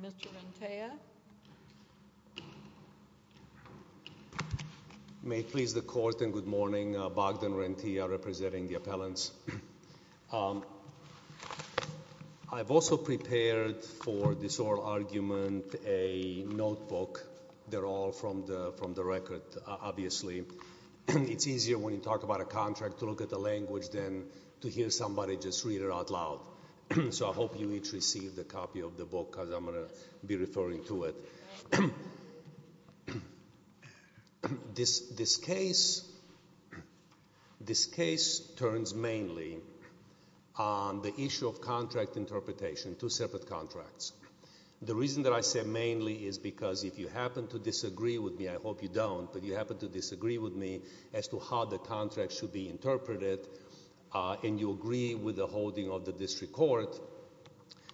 Mr. Rentea. May it please the Court and good morning, Bogdan Rentea representing the appellants. I've also prepared for this oral argument a notebook. They're all from the record, obviously. It's easier when you talk about a contract to look at the language than to hear somebody just read it out loud. So I hope you each receive a copy of the book because I'm going to be referring to it. This case turns mainly on the issue of contract interpretation, two separate contracts. The reason that I say mainly is because if you happen to disagree with me, I hope you don't, but you happen to disagree with me as to how the contract should be interpreted and you agree with the holding of the district court,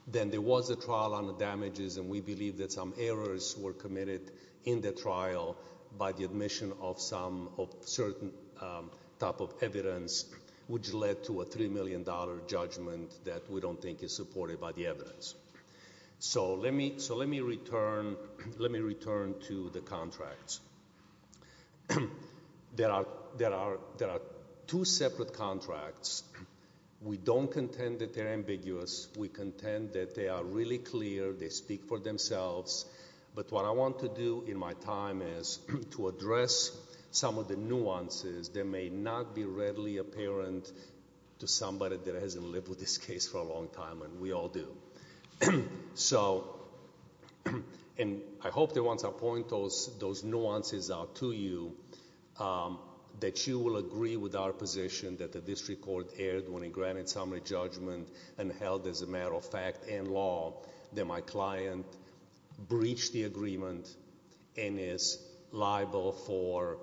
then there was a trial on the damages and we believe that some errors were committed in the trial by the admission of certain type of evidence which led to a $3 million judgment that we don't think is supported by the evidence. So let me return to the contracts. There are two separate contracts. We don't contend that they're ambiguous. We contend that they are really clear, they speak for themselves. But what I want to do in my time is to address some of the nuances that may not be readily apparent to somebody that hasn't lived with this case for a long time and we all do. So, and I hope that once I point those nuances out to you, that you will agree with our position that the district court erred when it granted summary judgment and held as a matter of fact and law that my client breached the agreement and is liable for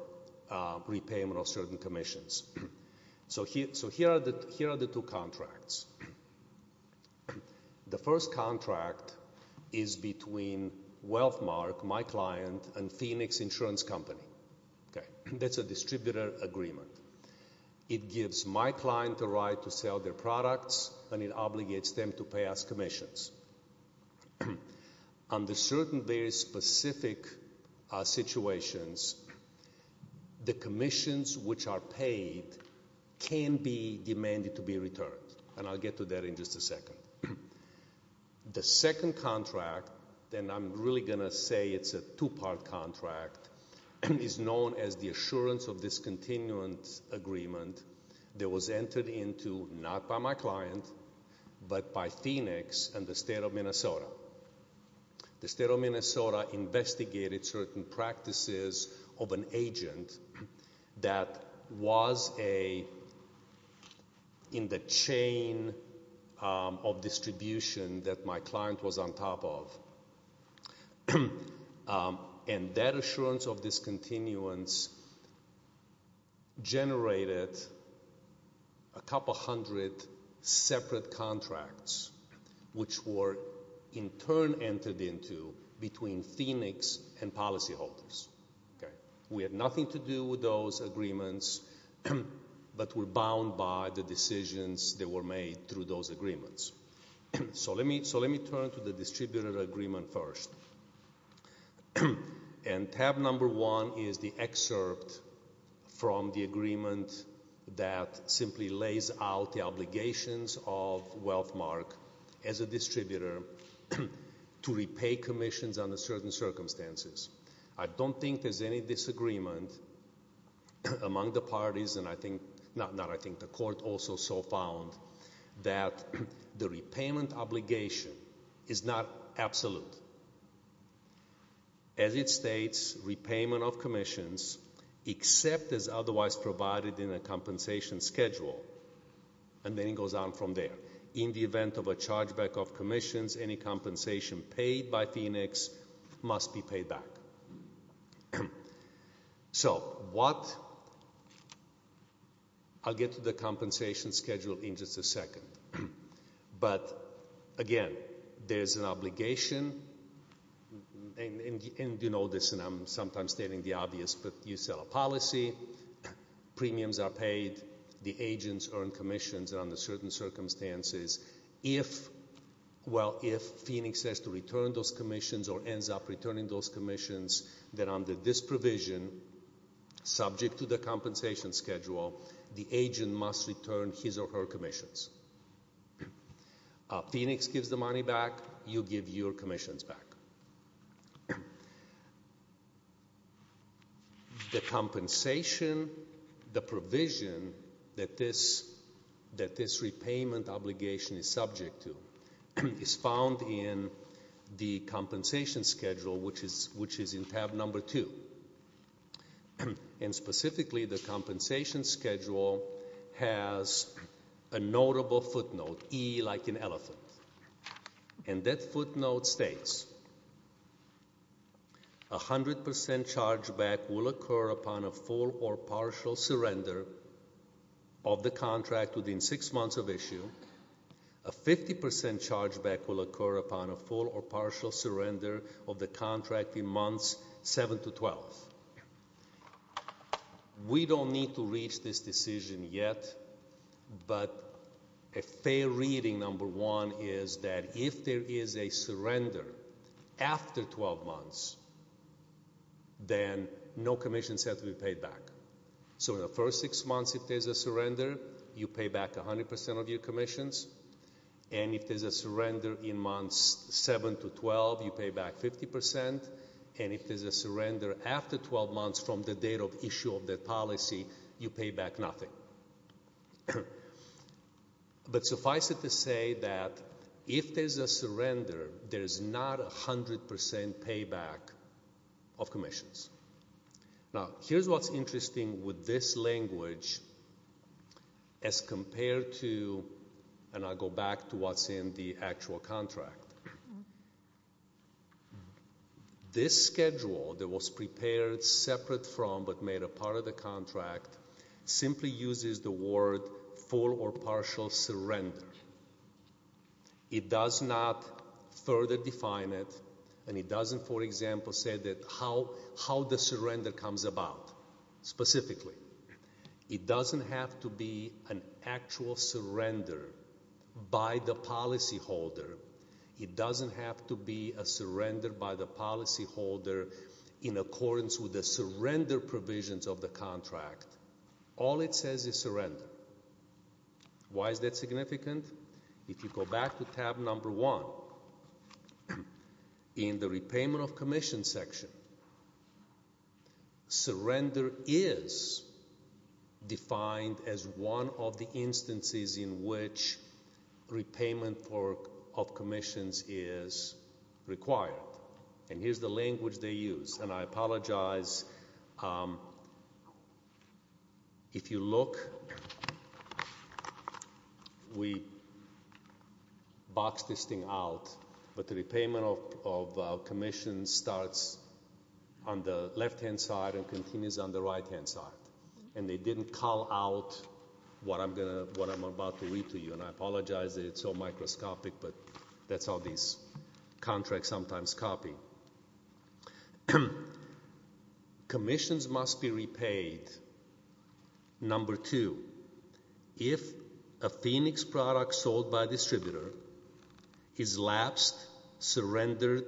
repayment of certain commissions. So here are the two contracts. The first contract is between Wealthmark, my client, and Phoenix Insurance Company. Okay. That's a distributor agreement. It gives my client the right to sell their products and it obligates them to pay us commissions. Under certain very specific situations, the commissions which are paid can be demanded to be returned and I'll get to that in just a second. The second contract, and I'm really going to say it's a two-part contract, is known as the Assurance of Discontinuance Agreement that was entered into not by my client but by Phoenix and the State of Minnesota. The State of Minnesota investigated certain practices of an agent that was a, in the chain of distribution that my client was on top of. And that assurance of discontinuance generated a couple hundred separate contracts which were in turn entered into between Phoenix and policyholders. Okay. We had nothing to do with those agreements but were bound by the decisions that were made through those agreements. So let me turn to the distributor agreement first. And tab number one is the excerpt from the agreement that simply lays out the obligations of Wealthmark as a distributor to repay commissions under certain circumstances. I don't think there's any disagreement among the parties and I think, not I think, the court also so found that the repayment obligation is not absolute. As it states, repayment of commissions except as otherwise provided in a compensation schedule and then it goes on from there. In the event of a chargeback of commissions, any compensation paid by Phoenix must be paid back. So what, I'll get to the compensation schedule in just a second. But again, there's an obligation and you know this and I'm sometimes stating the obvious but you sell a policy, premiums are paid, the agents earn commissions under certain circumstances, if, well, if Phoenix has to return those commissions or ends up returning those commissions, then under this provision subject to the compensation schedule, the agent must return his or her commissions. Phoenix gives the money back, you give your commissions back. The compensation, the provision that this, that this repayment obligation is subject to is found in the compensation schedule which is in tab number two and specifically, the compensation schedule has a notable footnote, E like an elephant. And that footnote states, a 100% chargeback will occur upon a full or partial surrender of the contract within six months of issue. A 50% chargeback will occur upon a full or partial surrender of the contract in months seven to 12. We don't need to reach this decision yet but a fair reading number one is that if there is a surrender after 12 months, then no commissions have to be paid back. So in the first six months, if there's a surrender, you pay back 100% of your commissions and if there's a surrender in months seven to 12, you pay back 50% and if there's a surrender after 12 months from the date of issue of the policy, you pay back nothing. But suffice it to say that if there's a surrender, there's not a 100% payback of commissions. Now, here's what's interesting with this language as compared to, and I'll go back to what's in the actual contract. This schedule that was prepared separate from but made a part of the contract simply uses the word full or partial surrender. It does not further define it and it doesn't, for example, say that how the surrender comes about specifically. It doesn't have to be an actual surrender by the policyholder. It doesn't have to be a surrender by the policyholder in accordance with the surrender provisions of the contract. All it says is surrender. Why is that significant? If you go back to tab number one in the repayment of commission section, surrender is defined as one of the instances in which repayment of commissions is required. And here's the language they use. And I apologize. If you look, we boxed this thing out, but the repayment of commissions starts on the left-hand side and continues on the right-hand side. And they didn't call out what I'm about to read to you. And I apologize that it's so microscopic, but that's how these contracts sometimes copy. Commissions must be repaid, number two, if a Phoenix product sold by a distributor is lapsed, surrendered,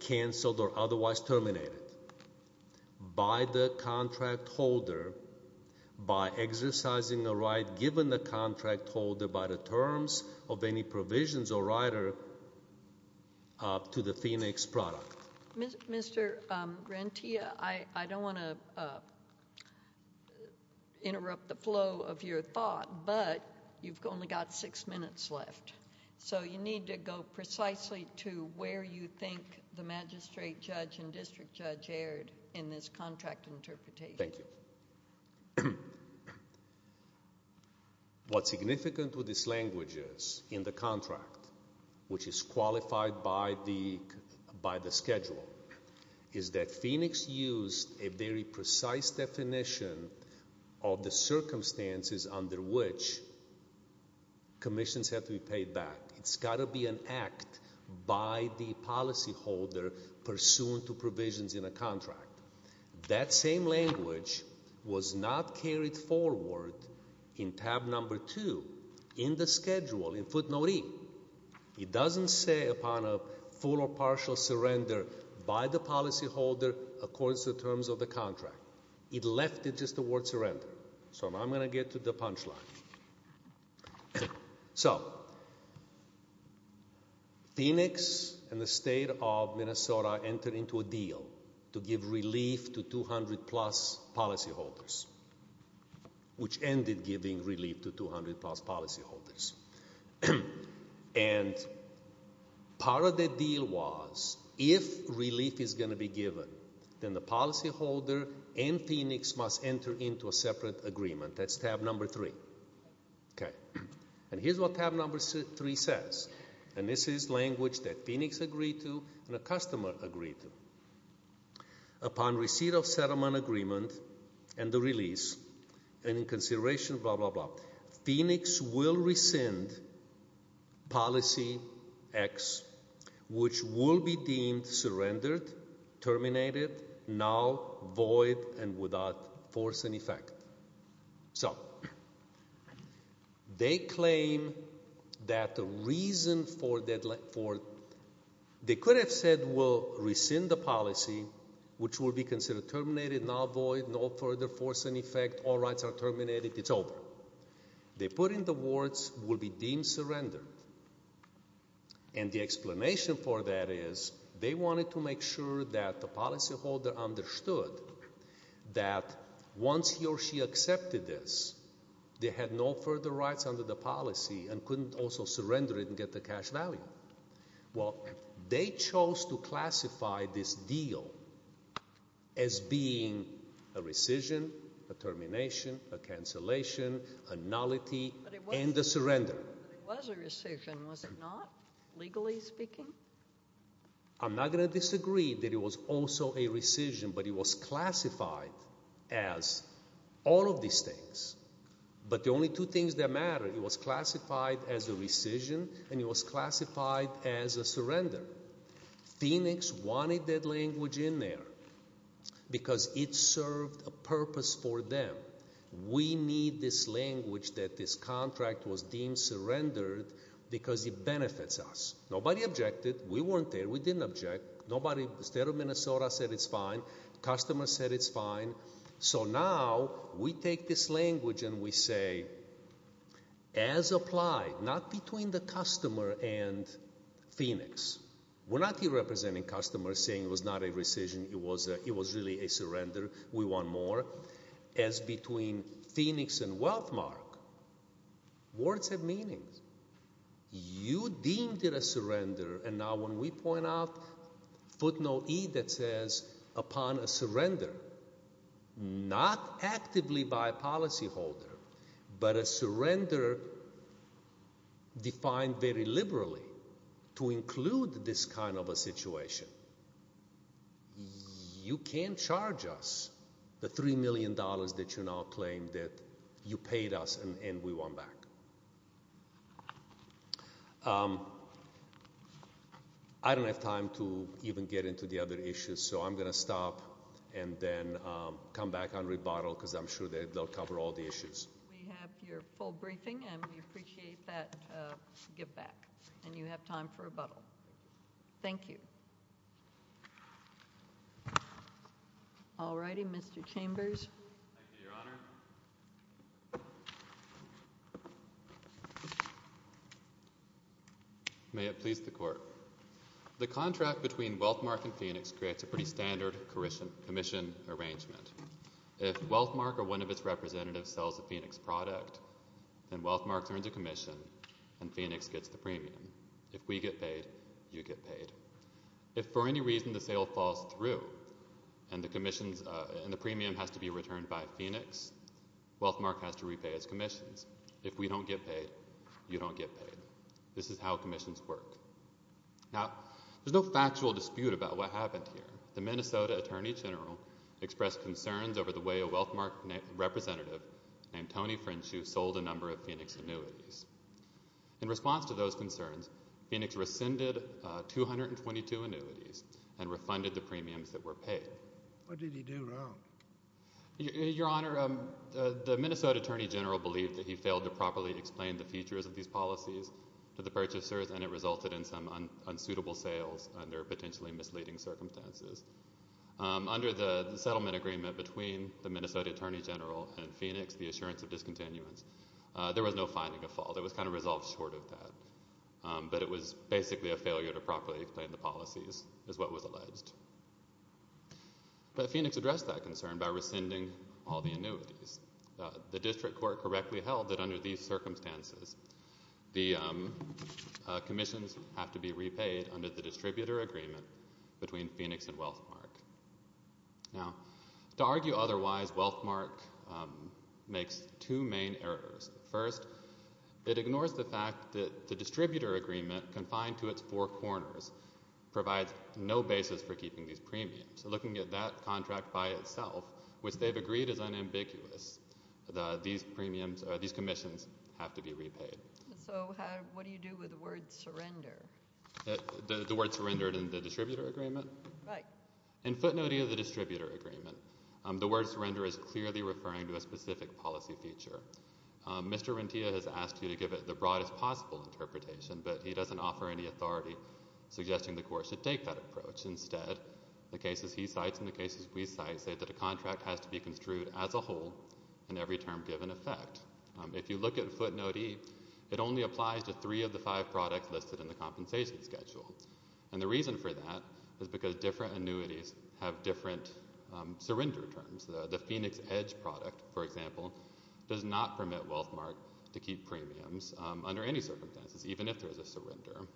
canceled, or otherwise terminated by the contract holder by exercising a right given the contract holder by the terms of any provisions or rider up to the Phoenix product. Mr. Grantia, I don't want to interrupt the flow of your thought, but you've only got six minutes left. So you need to go precisely to where you think the magistrate judge and district judge erred in this contract interpretation. Thank you. What's significant with this language is in the contract, which is qualified by the schedule, is that Phoenix used a very precise definition of the circumstances under which commissions have to be paid back. It's got to be an act by the policyholder pursuant to provisions in a contract. That same language was not carried forward in tab number two in the schedule, in footnote E. It doesn't say upon a full or partial surrender by the policyholder according to the terms of the contract. It left it just the word surrender. So I'm going to get to the punchline. So Phoenix and the state of Minnesota entered into a deal to give relief to 200 plus policyholders, which ended giving relief to 200 plus policyholders. And part of the deal was if relief is going to be given, then the policyholder and Phoenix must enter into a separate agreement. That's tab number three. Okay. And here's what tab number three says. And this is language that Phoenix agreed to and a customer agreed to. Upon receipt of settlement agreement and the release, and in consideration, blah, blah, blah, Phoenix will rescind policy X, which will be deemed surrendered, terminated, null, void, and without force and effect. So they claim that the reason for that, for they could have said we'll rescind the policy, which will be considered terminated, null, void, no further force and effect, all rights are terminated, it's over. They put in the words, will be deemed surrendered. And the explanation for that is they wanted to make sure that the policyholder understood that once he or she accepted this, they had no further rights under the policy and couldn't also surrender it and get the cash value. Well, they chose to classify this deal as being a rescission, a termination, a cancellation, a nullity, and a surrender. It was a rescission, was it not, legally speaking? I'm not going to disagree that it was also a rescission, but it was classified as all of these things. But the only two things that matter, it was classified as a rescission and it was classified as a surrender. Phoenix wanted that language in there because it served a purpose for them. We need this language that this contract was deemed surrendered because it benefits us. Nobody objected. We weren't there. We didn't object. Nobody, the state of Minnesota said it's fine. Customers said it's fine. So now, we take this language and we say, as applied, not between the customer and Phoenix. We're not here representing customers saying it was not a rescission, it was really a surrender, we want more. As between Phoenix and Wealthmark, words have meanings. You deemed it a surrender and now when we point out footnote E that says, upon a surrender, not actively by a policyholder, but a surrender defined very liberally to include this kind of a situation. You can't charge us the $3 million that you now claim that you paid us and we want back. I don't have time to even get into the other issues, so I'm going to stop. And then come back on rebuttal because I'm sure they'll cover all the issues. We have your full briefing and we appreciate that give back. And you have time for rebuttal. Thank you. All righty, Mr. Chambers. Thank you, Your Honor. May it please the court. The contract between Wealthmark and Phoenix creates a pretty standard commission arrangement. If Wealthmark or one of its representatives sells a Phoenix product, then Wealthmark earns a commission and Phoenix gets the premium. If we get paid, you get paid. If for any reason the sale falls through and the premium has to be returned by Phoenix, Wealthmark has to repay its commissions. If we don't get paid, you don't get paid. This is how commissions work. Now, there's no factual dispute about what happened here. The Minnesota Attorney General expressed concerns over the way a Wealthmark representative named Tony French who sold a number of Phoenix annuities. In response to those concerns, Phoenix rescinded 222 annuities and refunded the premiums that were paid. What did he do wrong? Your Honor, the Minnesota Attorney General believed that he failed to properly explain the features of these policies to the purchasers and it resulted in some unsuitable sales under potentially misleading circumstances. Under the settlement agreement between the Minnesota Attorney General and Phoenix, the assurance of discontinuance, there was no finding of fault. It was kind of resolved short of that. But it was basically a failure to properly explain the policies is what was alleged. But Phoenix addressed that concern by rescinding all the annuities. The district court correctly held that under these circumstances, the commissions have to be repaid under the distributor agreement between Phoenix and Wealthmark. Now, to argue otherwise, Wealthmark makes two main errors. First, it ignores the fact that the distributor agreement confined to its four corners provides no basis for keeping these premiums. So looking at that contract by itself, which they've agreed is unambiguous, these commissions have to be repaid. So what do you do with the word surrender? The word surrendered in the distributor agreement? Right. In footnote E of the distributor agreement, the word surrender is clearly referring to a specific policy feature. Mr. Rentea has asked you to give it the broadest possible interpretation, but he doesn't offer any authority suggesting the court should take that approach. Instead, the cases he cites and the cases we cite say that a contract has to be construed as a whole in every term given effect. If you look at footnote E, it only applies to three of the five products listed in the compensation schedule. And the reason for that is because different annuities have different surrender terms. The Phoenix Edge product, for example, does not permit Wealthmark to keep premiums under any circumstances, even if there is a surrender.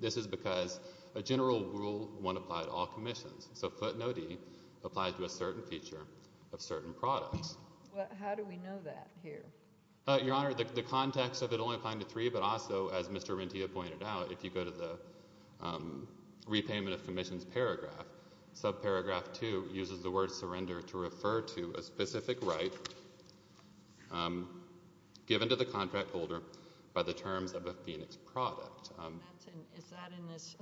This is because a general rule won't apply to all commissions. So footnote E applies to a certain feature of certain products. How do we know that here? Your Honor, the context of it only applying to three, but also, as Mr. Rentea pointed out, if you go to the repayment of commissions paragraph, subparagraph two uses the word surrender to refer to a specific right given to the contract holder by the terms of a Phoenix product. Is that in this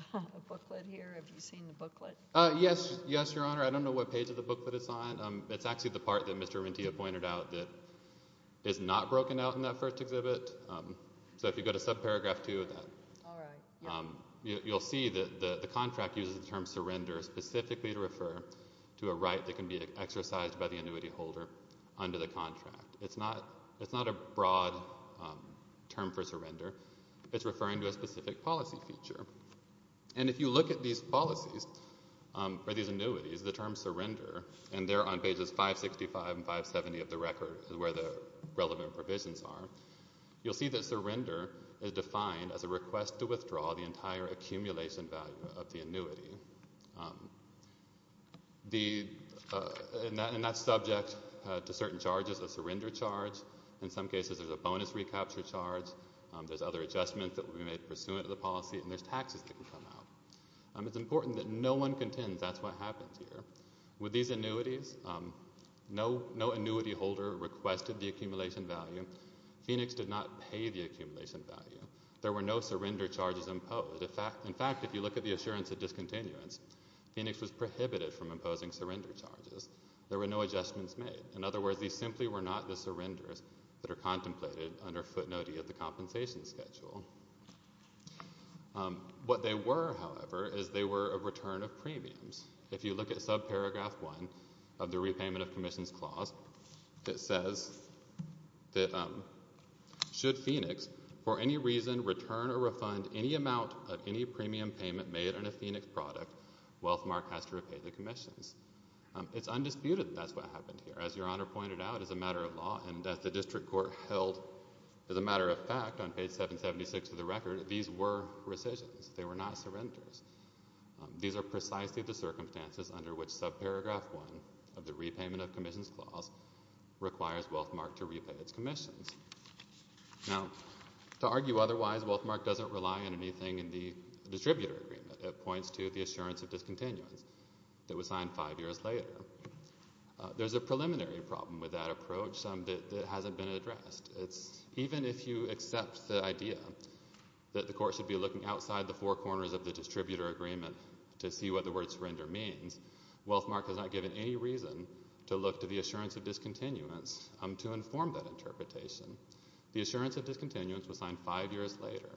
booklet here? Have you seen the booklet? Yes, Your Honor. I don't know what page of the booklet it's on. It's actually the part that Mr. Rentea pointed out that is not broken out in that first exhibit. So if you go to subparagraph two of that, you'll see that the contract uses the term surrender specifically to refer to a right that can be exercised by the annuity holder under the contract. It's not a broad term for surrender. It's referring to a specific policy feature. And if you look at these policies or these annuities, the term surrender, and they're on pages 565 and 570 of the record where the relevant provisions are, you'll see that surrender is defined as a request to withdraw the entire accumulation value of the annuity. And that's subject to certain charges, a surrender charge. In some cases, there's a bonus recapture charge. There's other adjustments that will be made pursuant to the policy, and there's taxes that can come out. It's important that no one contends that's what happens here. With these annuities, no annuity holder requested the accumulation value. Phoenix did not pay the accumulation value. There were no surrender charges imposed. In fact, if you look at the assurance of discontinuance, Phoenix was prohibited from imposing surrender charges. There were no adjustments made. In other words, these simply were not the surrenders that are contemplated under footnote E of the compensation schedule. What they were, however, is they were a return of premiums. If you look at subparagraph 1 of the repayment of commissions clause, it says that should Phoenix for any reason return or refund any amount of any premium payment made on a Phoenix product, Wealthmark has to repay the commissions. It's undisputed that that's what happened here. As Your Honor pointed out, as a matter of law and as the district court held as a matter of fact on page 776 of the record, these were rescissions. They were not surrenders. These are precisely the circumstances under which subparagraph 1 of the repayment of commissions clause requires Wealthmark to repay its commissions. Now, to argue otherwise, Wealthmark doesn't rely on anything in the distributor agreement. It points to the assurance of discontinuance that was signed five years later. There's a preliminary problem with that approach that hasn't been addressed. Even if you accept the idea that the court should be looking outside the four corners of the distributor agreement to see what the word surrender means, Wealthmark has not given any reason to look to the assurance of discontinuance to inform that interpretation. The assurance of discontinuance was signed five years later.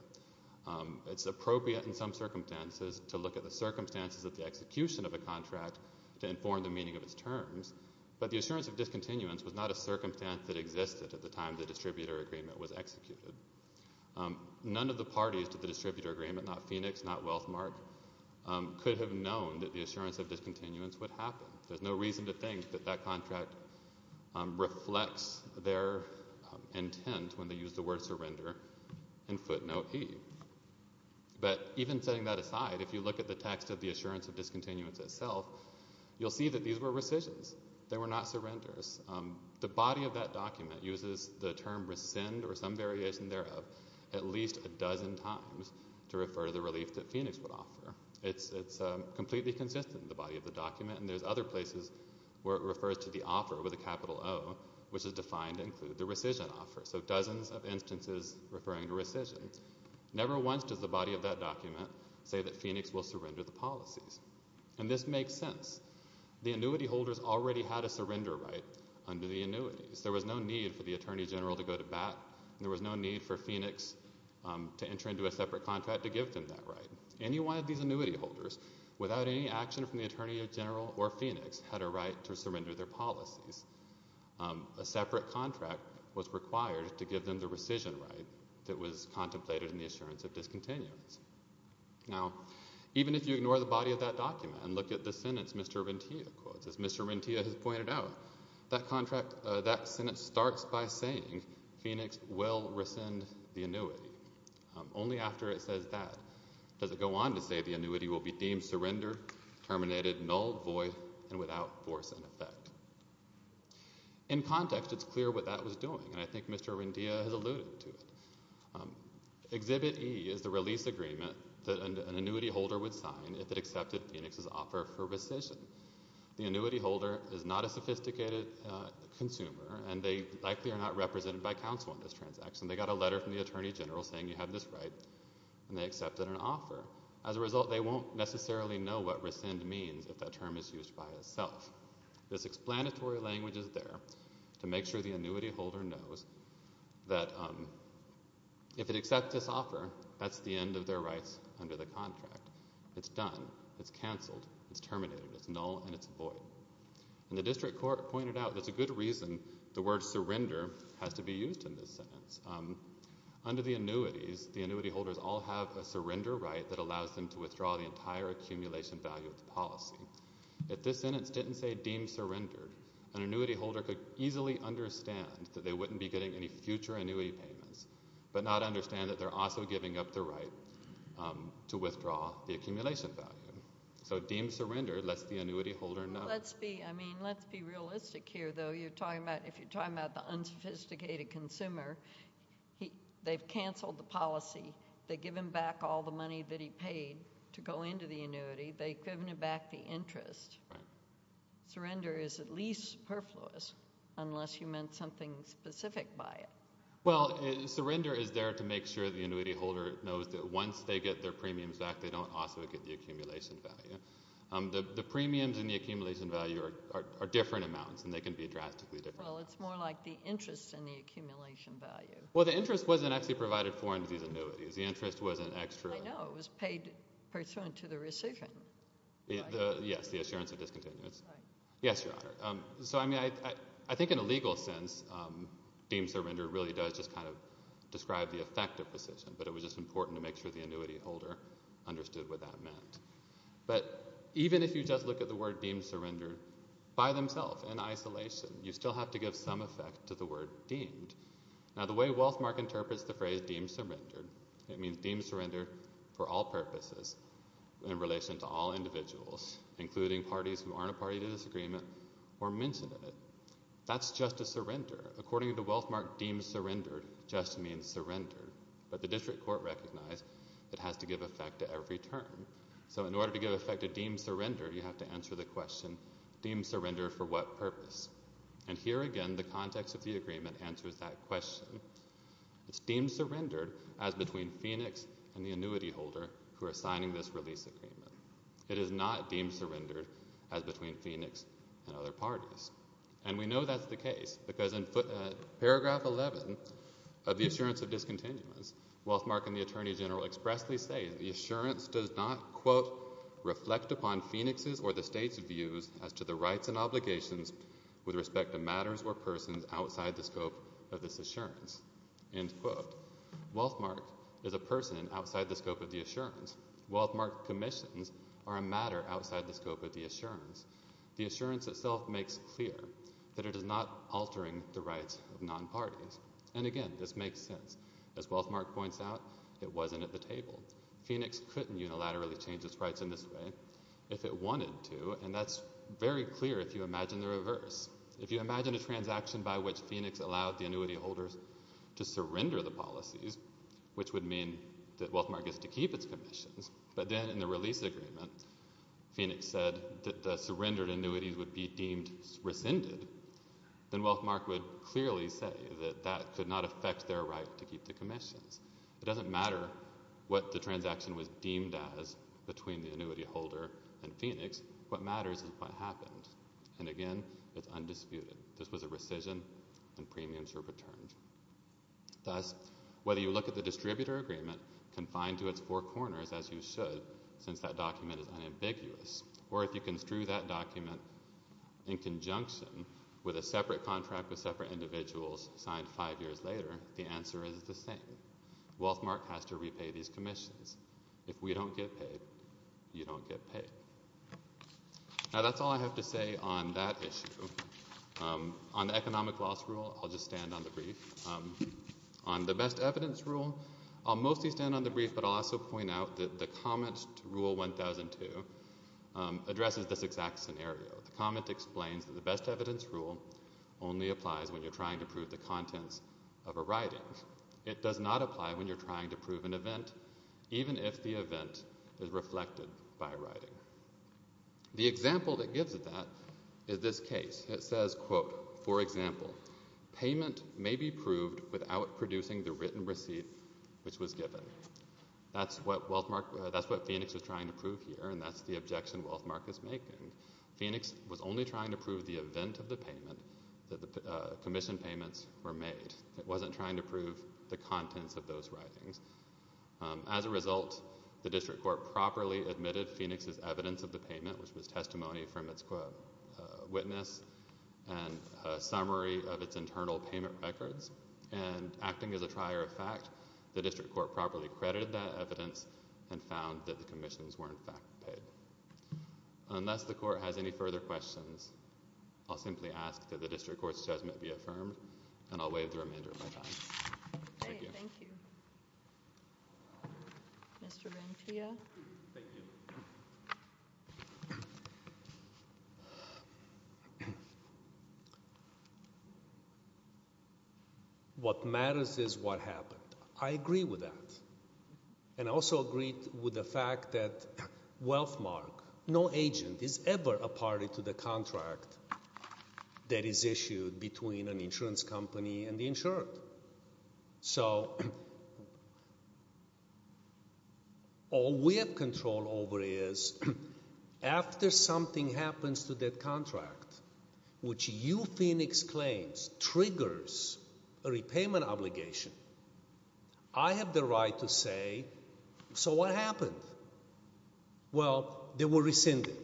It's appropriate in some circumstances to look at the circumstances of the execution of a contract to inform the meaning of its terms, but the assurance of discontinuance was not a circumstance that existed at the time the distributor agreement was executed. None of the parties to the distributor agreement, not Phoenix, not Wealthmark, could have known that the assurance of discontinuance would happen. There's no reason to think that that contract reflects their intent when they use the word surrender in footnote E. But even setting that aside, if you look at the text of the assurance of discontinuance itself, you'll see that these were rescissions. They were not surrenders. The body of that document uses the term rescind, or some variation thereof, at least a dozen times to refer to the relief that Phoenix would offer. It's completely consistent in the body of the document, and there's other places where it refers to the offer with a capital O, which is defined to include the rescission offer, so dozens of instances referring to rescissions. Never once does the body of that document say that Phoenix will surrender the policies. And this makes sense. The annuity holders already had a surrender right under the annuities. There was no need for the attorney general to go to bat, and there was no need for Phoenix to enter into a separate contract to give them that right. Any one of these annuity holders, without any action from the attorney general or Phoenix, had a right to surrender their policies. A separate contract was required to give them the rescission right that was contemplated in the assurance of discontinuance. Now, even if you ignore the body of that document and look at the sentence Mr. Rentea quotes, as Mr. Rentea has pointed out, that contract, that sentence starts by saying Phoenix will rescind the annuity. Only after it says that does it go on to say the annuity will be deemed surrender, terminated, null, void, and without force and effect. In context, it's clear what that was doing, and I think Mr. Rentea has alluded to it. Exhibit E is the release agreement that an annuity holder would sign if it accepted Phoenix's offer for rescission. The annuity holder is not a sophisticated consumer, and they likely are not represented by counsel in this transaction. They got a letter from the attorney general saying you have this right, and they accepted an offer. As a result, they won't necessarily know what rescind means if that term is used by itself. This explanatory language is there to make sure the annuity holder knows that if it accepts this offer, that's the end of their rights under the contract. It's done. It's canceled. It's terminated. It's null, and it's void. And the district court pointed out there's a good reason the word surrender has to be used in this sentence. Under the annuities, the annuity holders all have a surrender right that allows them to withdraw the entire accumulation value of the policy. If this sentence didn't say deemed surrendered, an annuity holder could easily understand that they wouldn't be getting any future annuity payments but not understand that they're also giving up the right to withdraw the accumulation value. So deemed surrendered lets the annuity holder know. Let's be realistic here, though. If you're talking about the unsophisticated consumer, they've canceled the policy. They give him back all the money that he paid to go into the annuity. They've given him back the interest. Surrender is at least perfluous unless you meant something specific by it. Well, surrender is there to make sure the annuity holder knows that once they get their premiums back, they don't also get the accumulation value. The premiums and the accumulation value are different amounts, and they can be drastically different. Well, it's more like the interest in the accumulation value. Well, the interest wasn't actually provided for under these annuities. The interest was an extra. I know. It was paid pursuant to the rescission. Yes, the assurance of discontinuance. Yes, Your Honor. So, I mean, I think in a legal sense, deemed surrendered really does just kind of describe the effect of rescission, but it was just important to make sure the annuity holder understood what that meant. But even if you just look at the word deemed surrendered by themselves in isolation, you still have to give some effect to the word deemed. Now, the way Wealthmark interprets the phrase deemed surrendered, it means deemed surrendered for all purposes in relation to all individuals, including parties who aren't a party to this agreement or mentioned in it. That's just a surrender. According to Wealthmark, deemed surrendered just means surrendered. But the district court recognized it has to give effect to every term. So in order to give effect to deemed surrendered, you have to answer the question, deemed surrendered for what purpose? And here again, the context of the agreement answers that question. It's deemed surrendered as between Phoenix and the annuity holder who are signing this release agreement. It is not deemed surrendered as between Phoenix and other parties. And we know that's the case because in paragraph 11 of the assurance of discontinuance, Wealthmark and the Attorney General expressly say the assurance does not, quote, Wealthmark is a person outside the scope of the assurance. Wealthmark commissions are a matter outside the scope of the assurance. The assurance itself makes clear that it is not altering the rights of non-parties. And again, this makes sense. As Wealthmark points out, it wasn't at the table. Phoenix couldn't unilaterally change its rights in this way if it wanted to, and that's very clear if you imagine the reverse. If you imagine a transaction by which Phoenix allowed the annuity holders to surrender the policies, which would mean that Wealthmark gets to keep its commissions, but then in the release agreement, Phoenix said that the surrendered annuities would be deemed rescinded, then Wealthmark would clearly say that that could not affect their right to keep the commissions. It doesn't matter what the transaction was deemed as between the annuity holder and Phoenix. What matters is what happened. And again, it's undisputed. This was a rescission, and premiums were returned. Thus, whether you look at the distributor agreement confined to its four corners, as you should, since that document is unambiguous, or if you construe that document in conjunction with a separate contract with separate individuals signed five years later, the answer is the same. Wealthmark has to repay these commissions. If we don't get paid, you don't get paid. Now, that's all I have to say on that issue. On the economic loss rule, I'll just stand on the brief. On the best evidence rule, I'll mostly stand on the brief, but I'll also point out that the comment to Rule 1002 addresses this exact scenario. The comment explains that the best evidence rule only applies when you're trying to prove the contents of a writing. It does not apply when you're trying to prove an event, even if the event is reflected by writing. The example that gives it that is this case. It says, quote, for example, payment may be proved without producing the written receipt which was given. That's what Phoenix is trying to prove here, and that's the objection Wealthmark is making. Phoenix was only trying to prove the event of the payment, that the commission payments were made. It wasn't trying to prove the contents of those writings. As a result, the district court properly admitted Phoenix's evidence of the payment, which was testimony from its witness and a summary of its internal payment records. And acting as a trier of fact, the district court properly credited that evidence and found that the commissions were, in fact, paid. Unless the court has any further questions, I'll simply ask that the district court's judgment be affirmed, and I'll waive the remainder of my time. Thank you. Thank you. Mr. Ventilla. Thank you. What matters is what happened. I agree with that. And I also agree with the fact that Wealthmark, no agent, is ever a party to the contract that is issued between an insurance company and the insurer. So all we have control over is after something happens to that contract, which you, Phoenix, claims triggers a repayment obligation, I have the right to say, so what happened? Well, they were rescinded.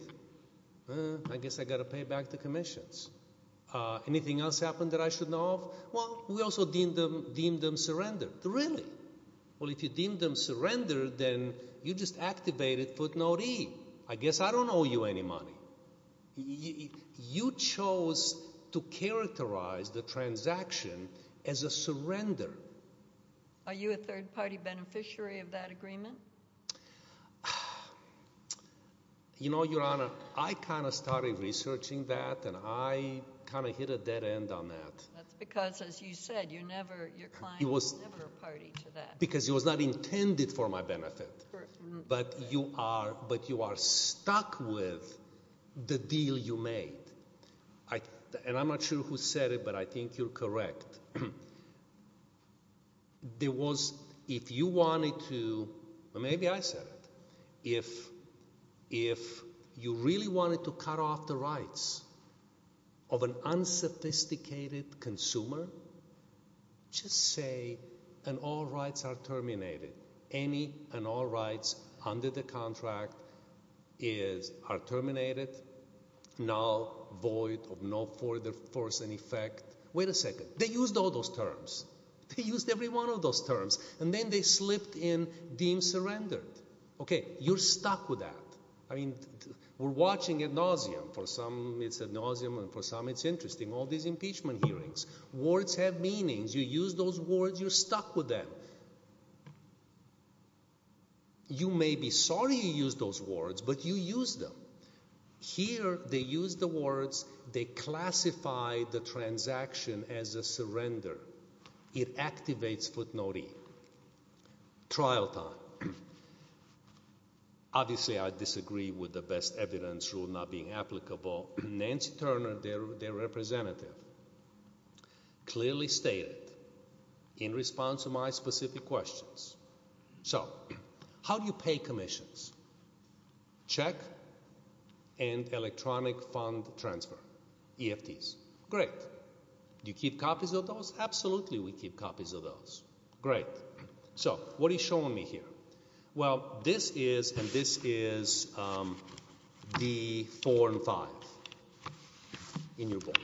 I guess I've got to pay back the commissions. Anything else happen that I should know of? Well, we also deemed them surrendered. Really? Well, if you deemed them surrendered, then you just activated footnote E. I guess I don't owe you any money. You chose to characterize the transaction as a surrender. Are you a third-party beneficiary of that agreement? You know, Your Honor, I kind of started researching that, and I kind of hit a dead end on that. That's because, as you said, your client was never a party to that. Because it was not intended for my benefit. Correct. But you are stuck with the deal you made. And I'm not sure who said it, but I think you're correct. There was – if you wanted to – maybe I said it. If you really wanted to cut off the rights of an unsophisticated consumer, just say, and all rights are terminated. Any and all rights under the contract are terminated, null, void, of no further force and effect. Wait a second. They used all those terms. They used every one of those terms. And then they slipped in deemed surrendered. Okay, you're stuck with that. I mean, we're watching ad nauseam. For some it's ad nauseam, and for some it's interesting, all these impeachment hearings. Words have meanings. You use those words, you're stuck with them. You may be sorry you used those words, but you used them. Here they used the words, they classified the transaction as a surrender. It activates footnote E. Trial time. Obviously I disagree with the best evidence rule not being applicable. Nancy Turner, their representative, clearly stated in response to my specific questions. So how do you pay commissions? Check and electronic fund transfer, EFTs. Great. Do you keep copies of those? Absolutely we keep copies of those. Great. So what are you showing me here? Well, this is, and this is D4 and 5 in your book.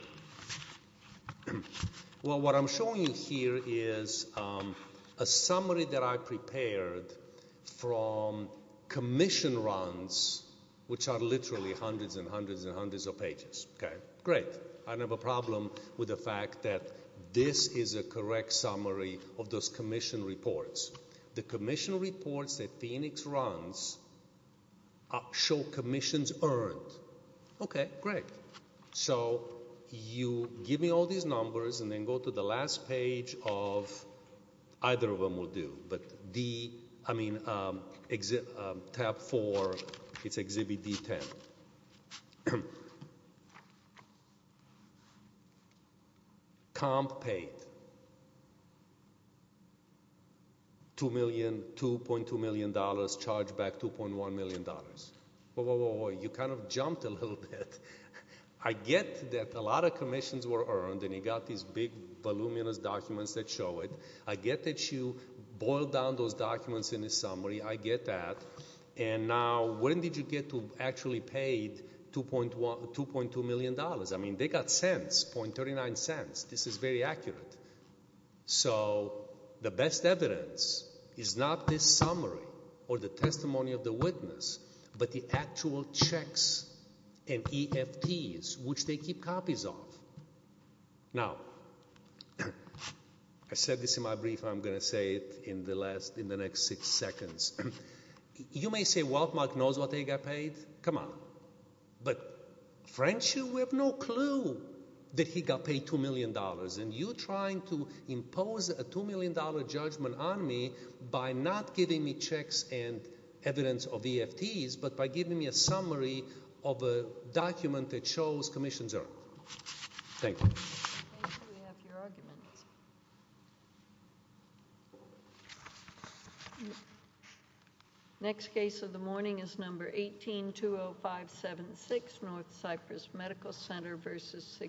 Well, what I'm showing you here is a summary that I prepared from commission runs, which are literally hundreds and hundreds and hundreds of pages. Great. I don't have a problem with the fact that this is a correct summary of those commission reports. The commission reports that Phoenix runs show commissions earned. Okay. Great. So you give me all these numbers and then go to the last page of, either of them will do, but D, I mean, tab 4, it's exhibit D10. Comp paid. $2.2 million, charged back $2.1 million. Whoa, whoa, whoa, whoa. You kind of jumped a little bit. I get that a lot of commissions were earned and you got these big voluminous documents that show it. I get that you boiled down those documents in a summary. I get that. And now when did you get to actually paid $2.2 million? I mean, they got cents, .39 cents. This is very accurate. So the best evidence is not this summary or the testimony of the witness, but the actual checks and EFTs, which they keep copies of. Now, I said this in my brief. I'm going to say it in the next six seconds. You may say, well, Mark knows what they got paid. Come on. But French, you have no clue that he got paid $2 million. And you're trying to impose a $2 million judgment on me by not giving me checks and evidence of EFTs, but by giving me a summary of a document that shows commissions are earned. Thank you. Thank you. We have your arguments. Next case of the morning is number 1820576, North Cypress Medical Center v. Sigma.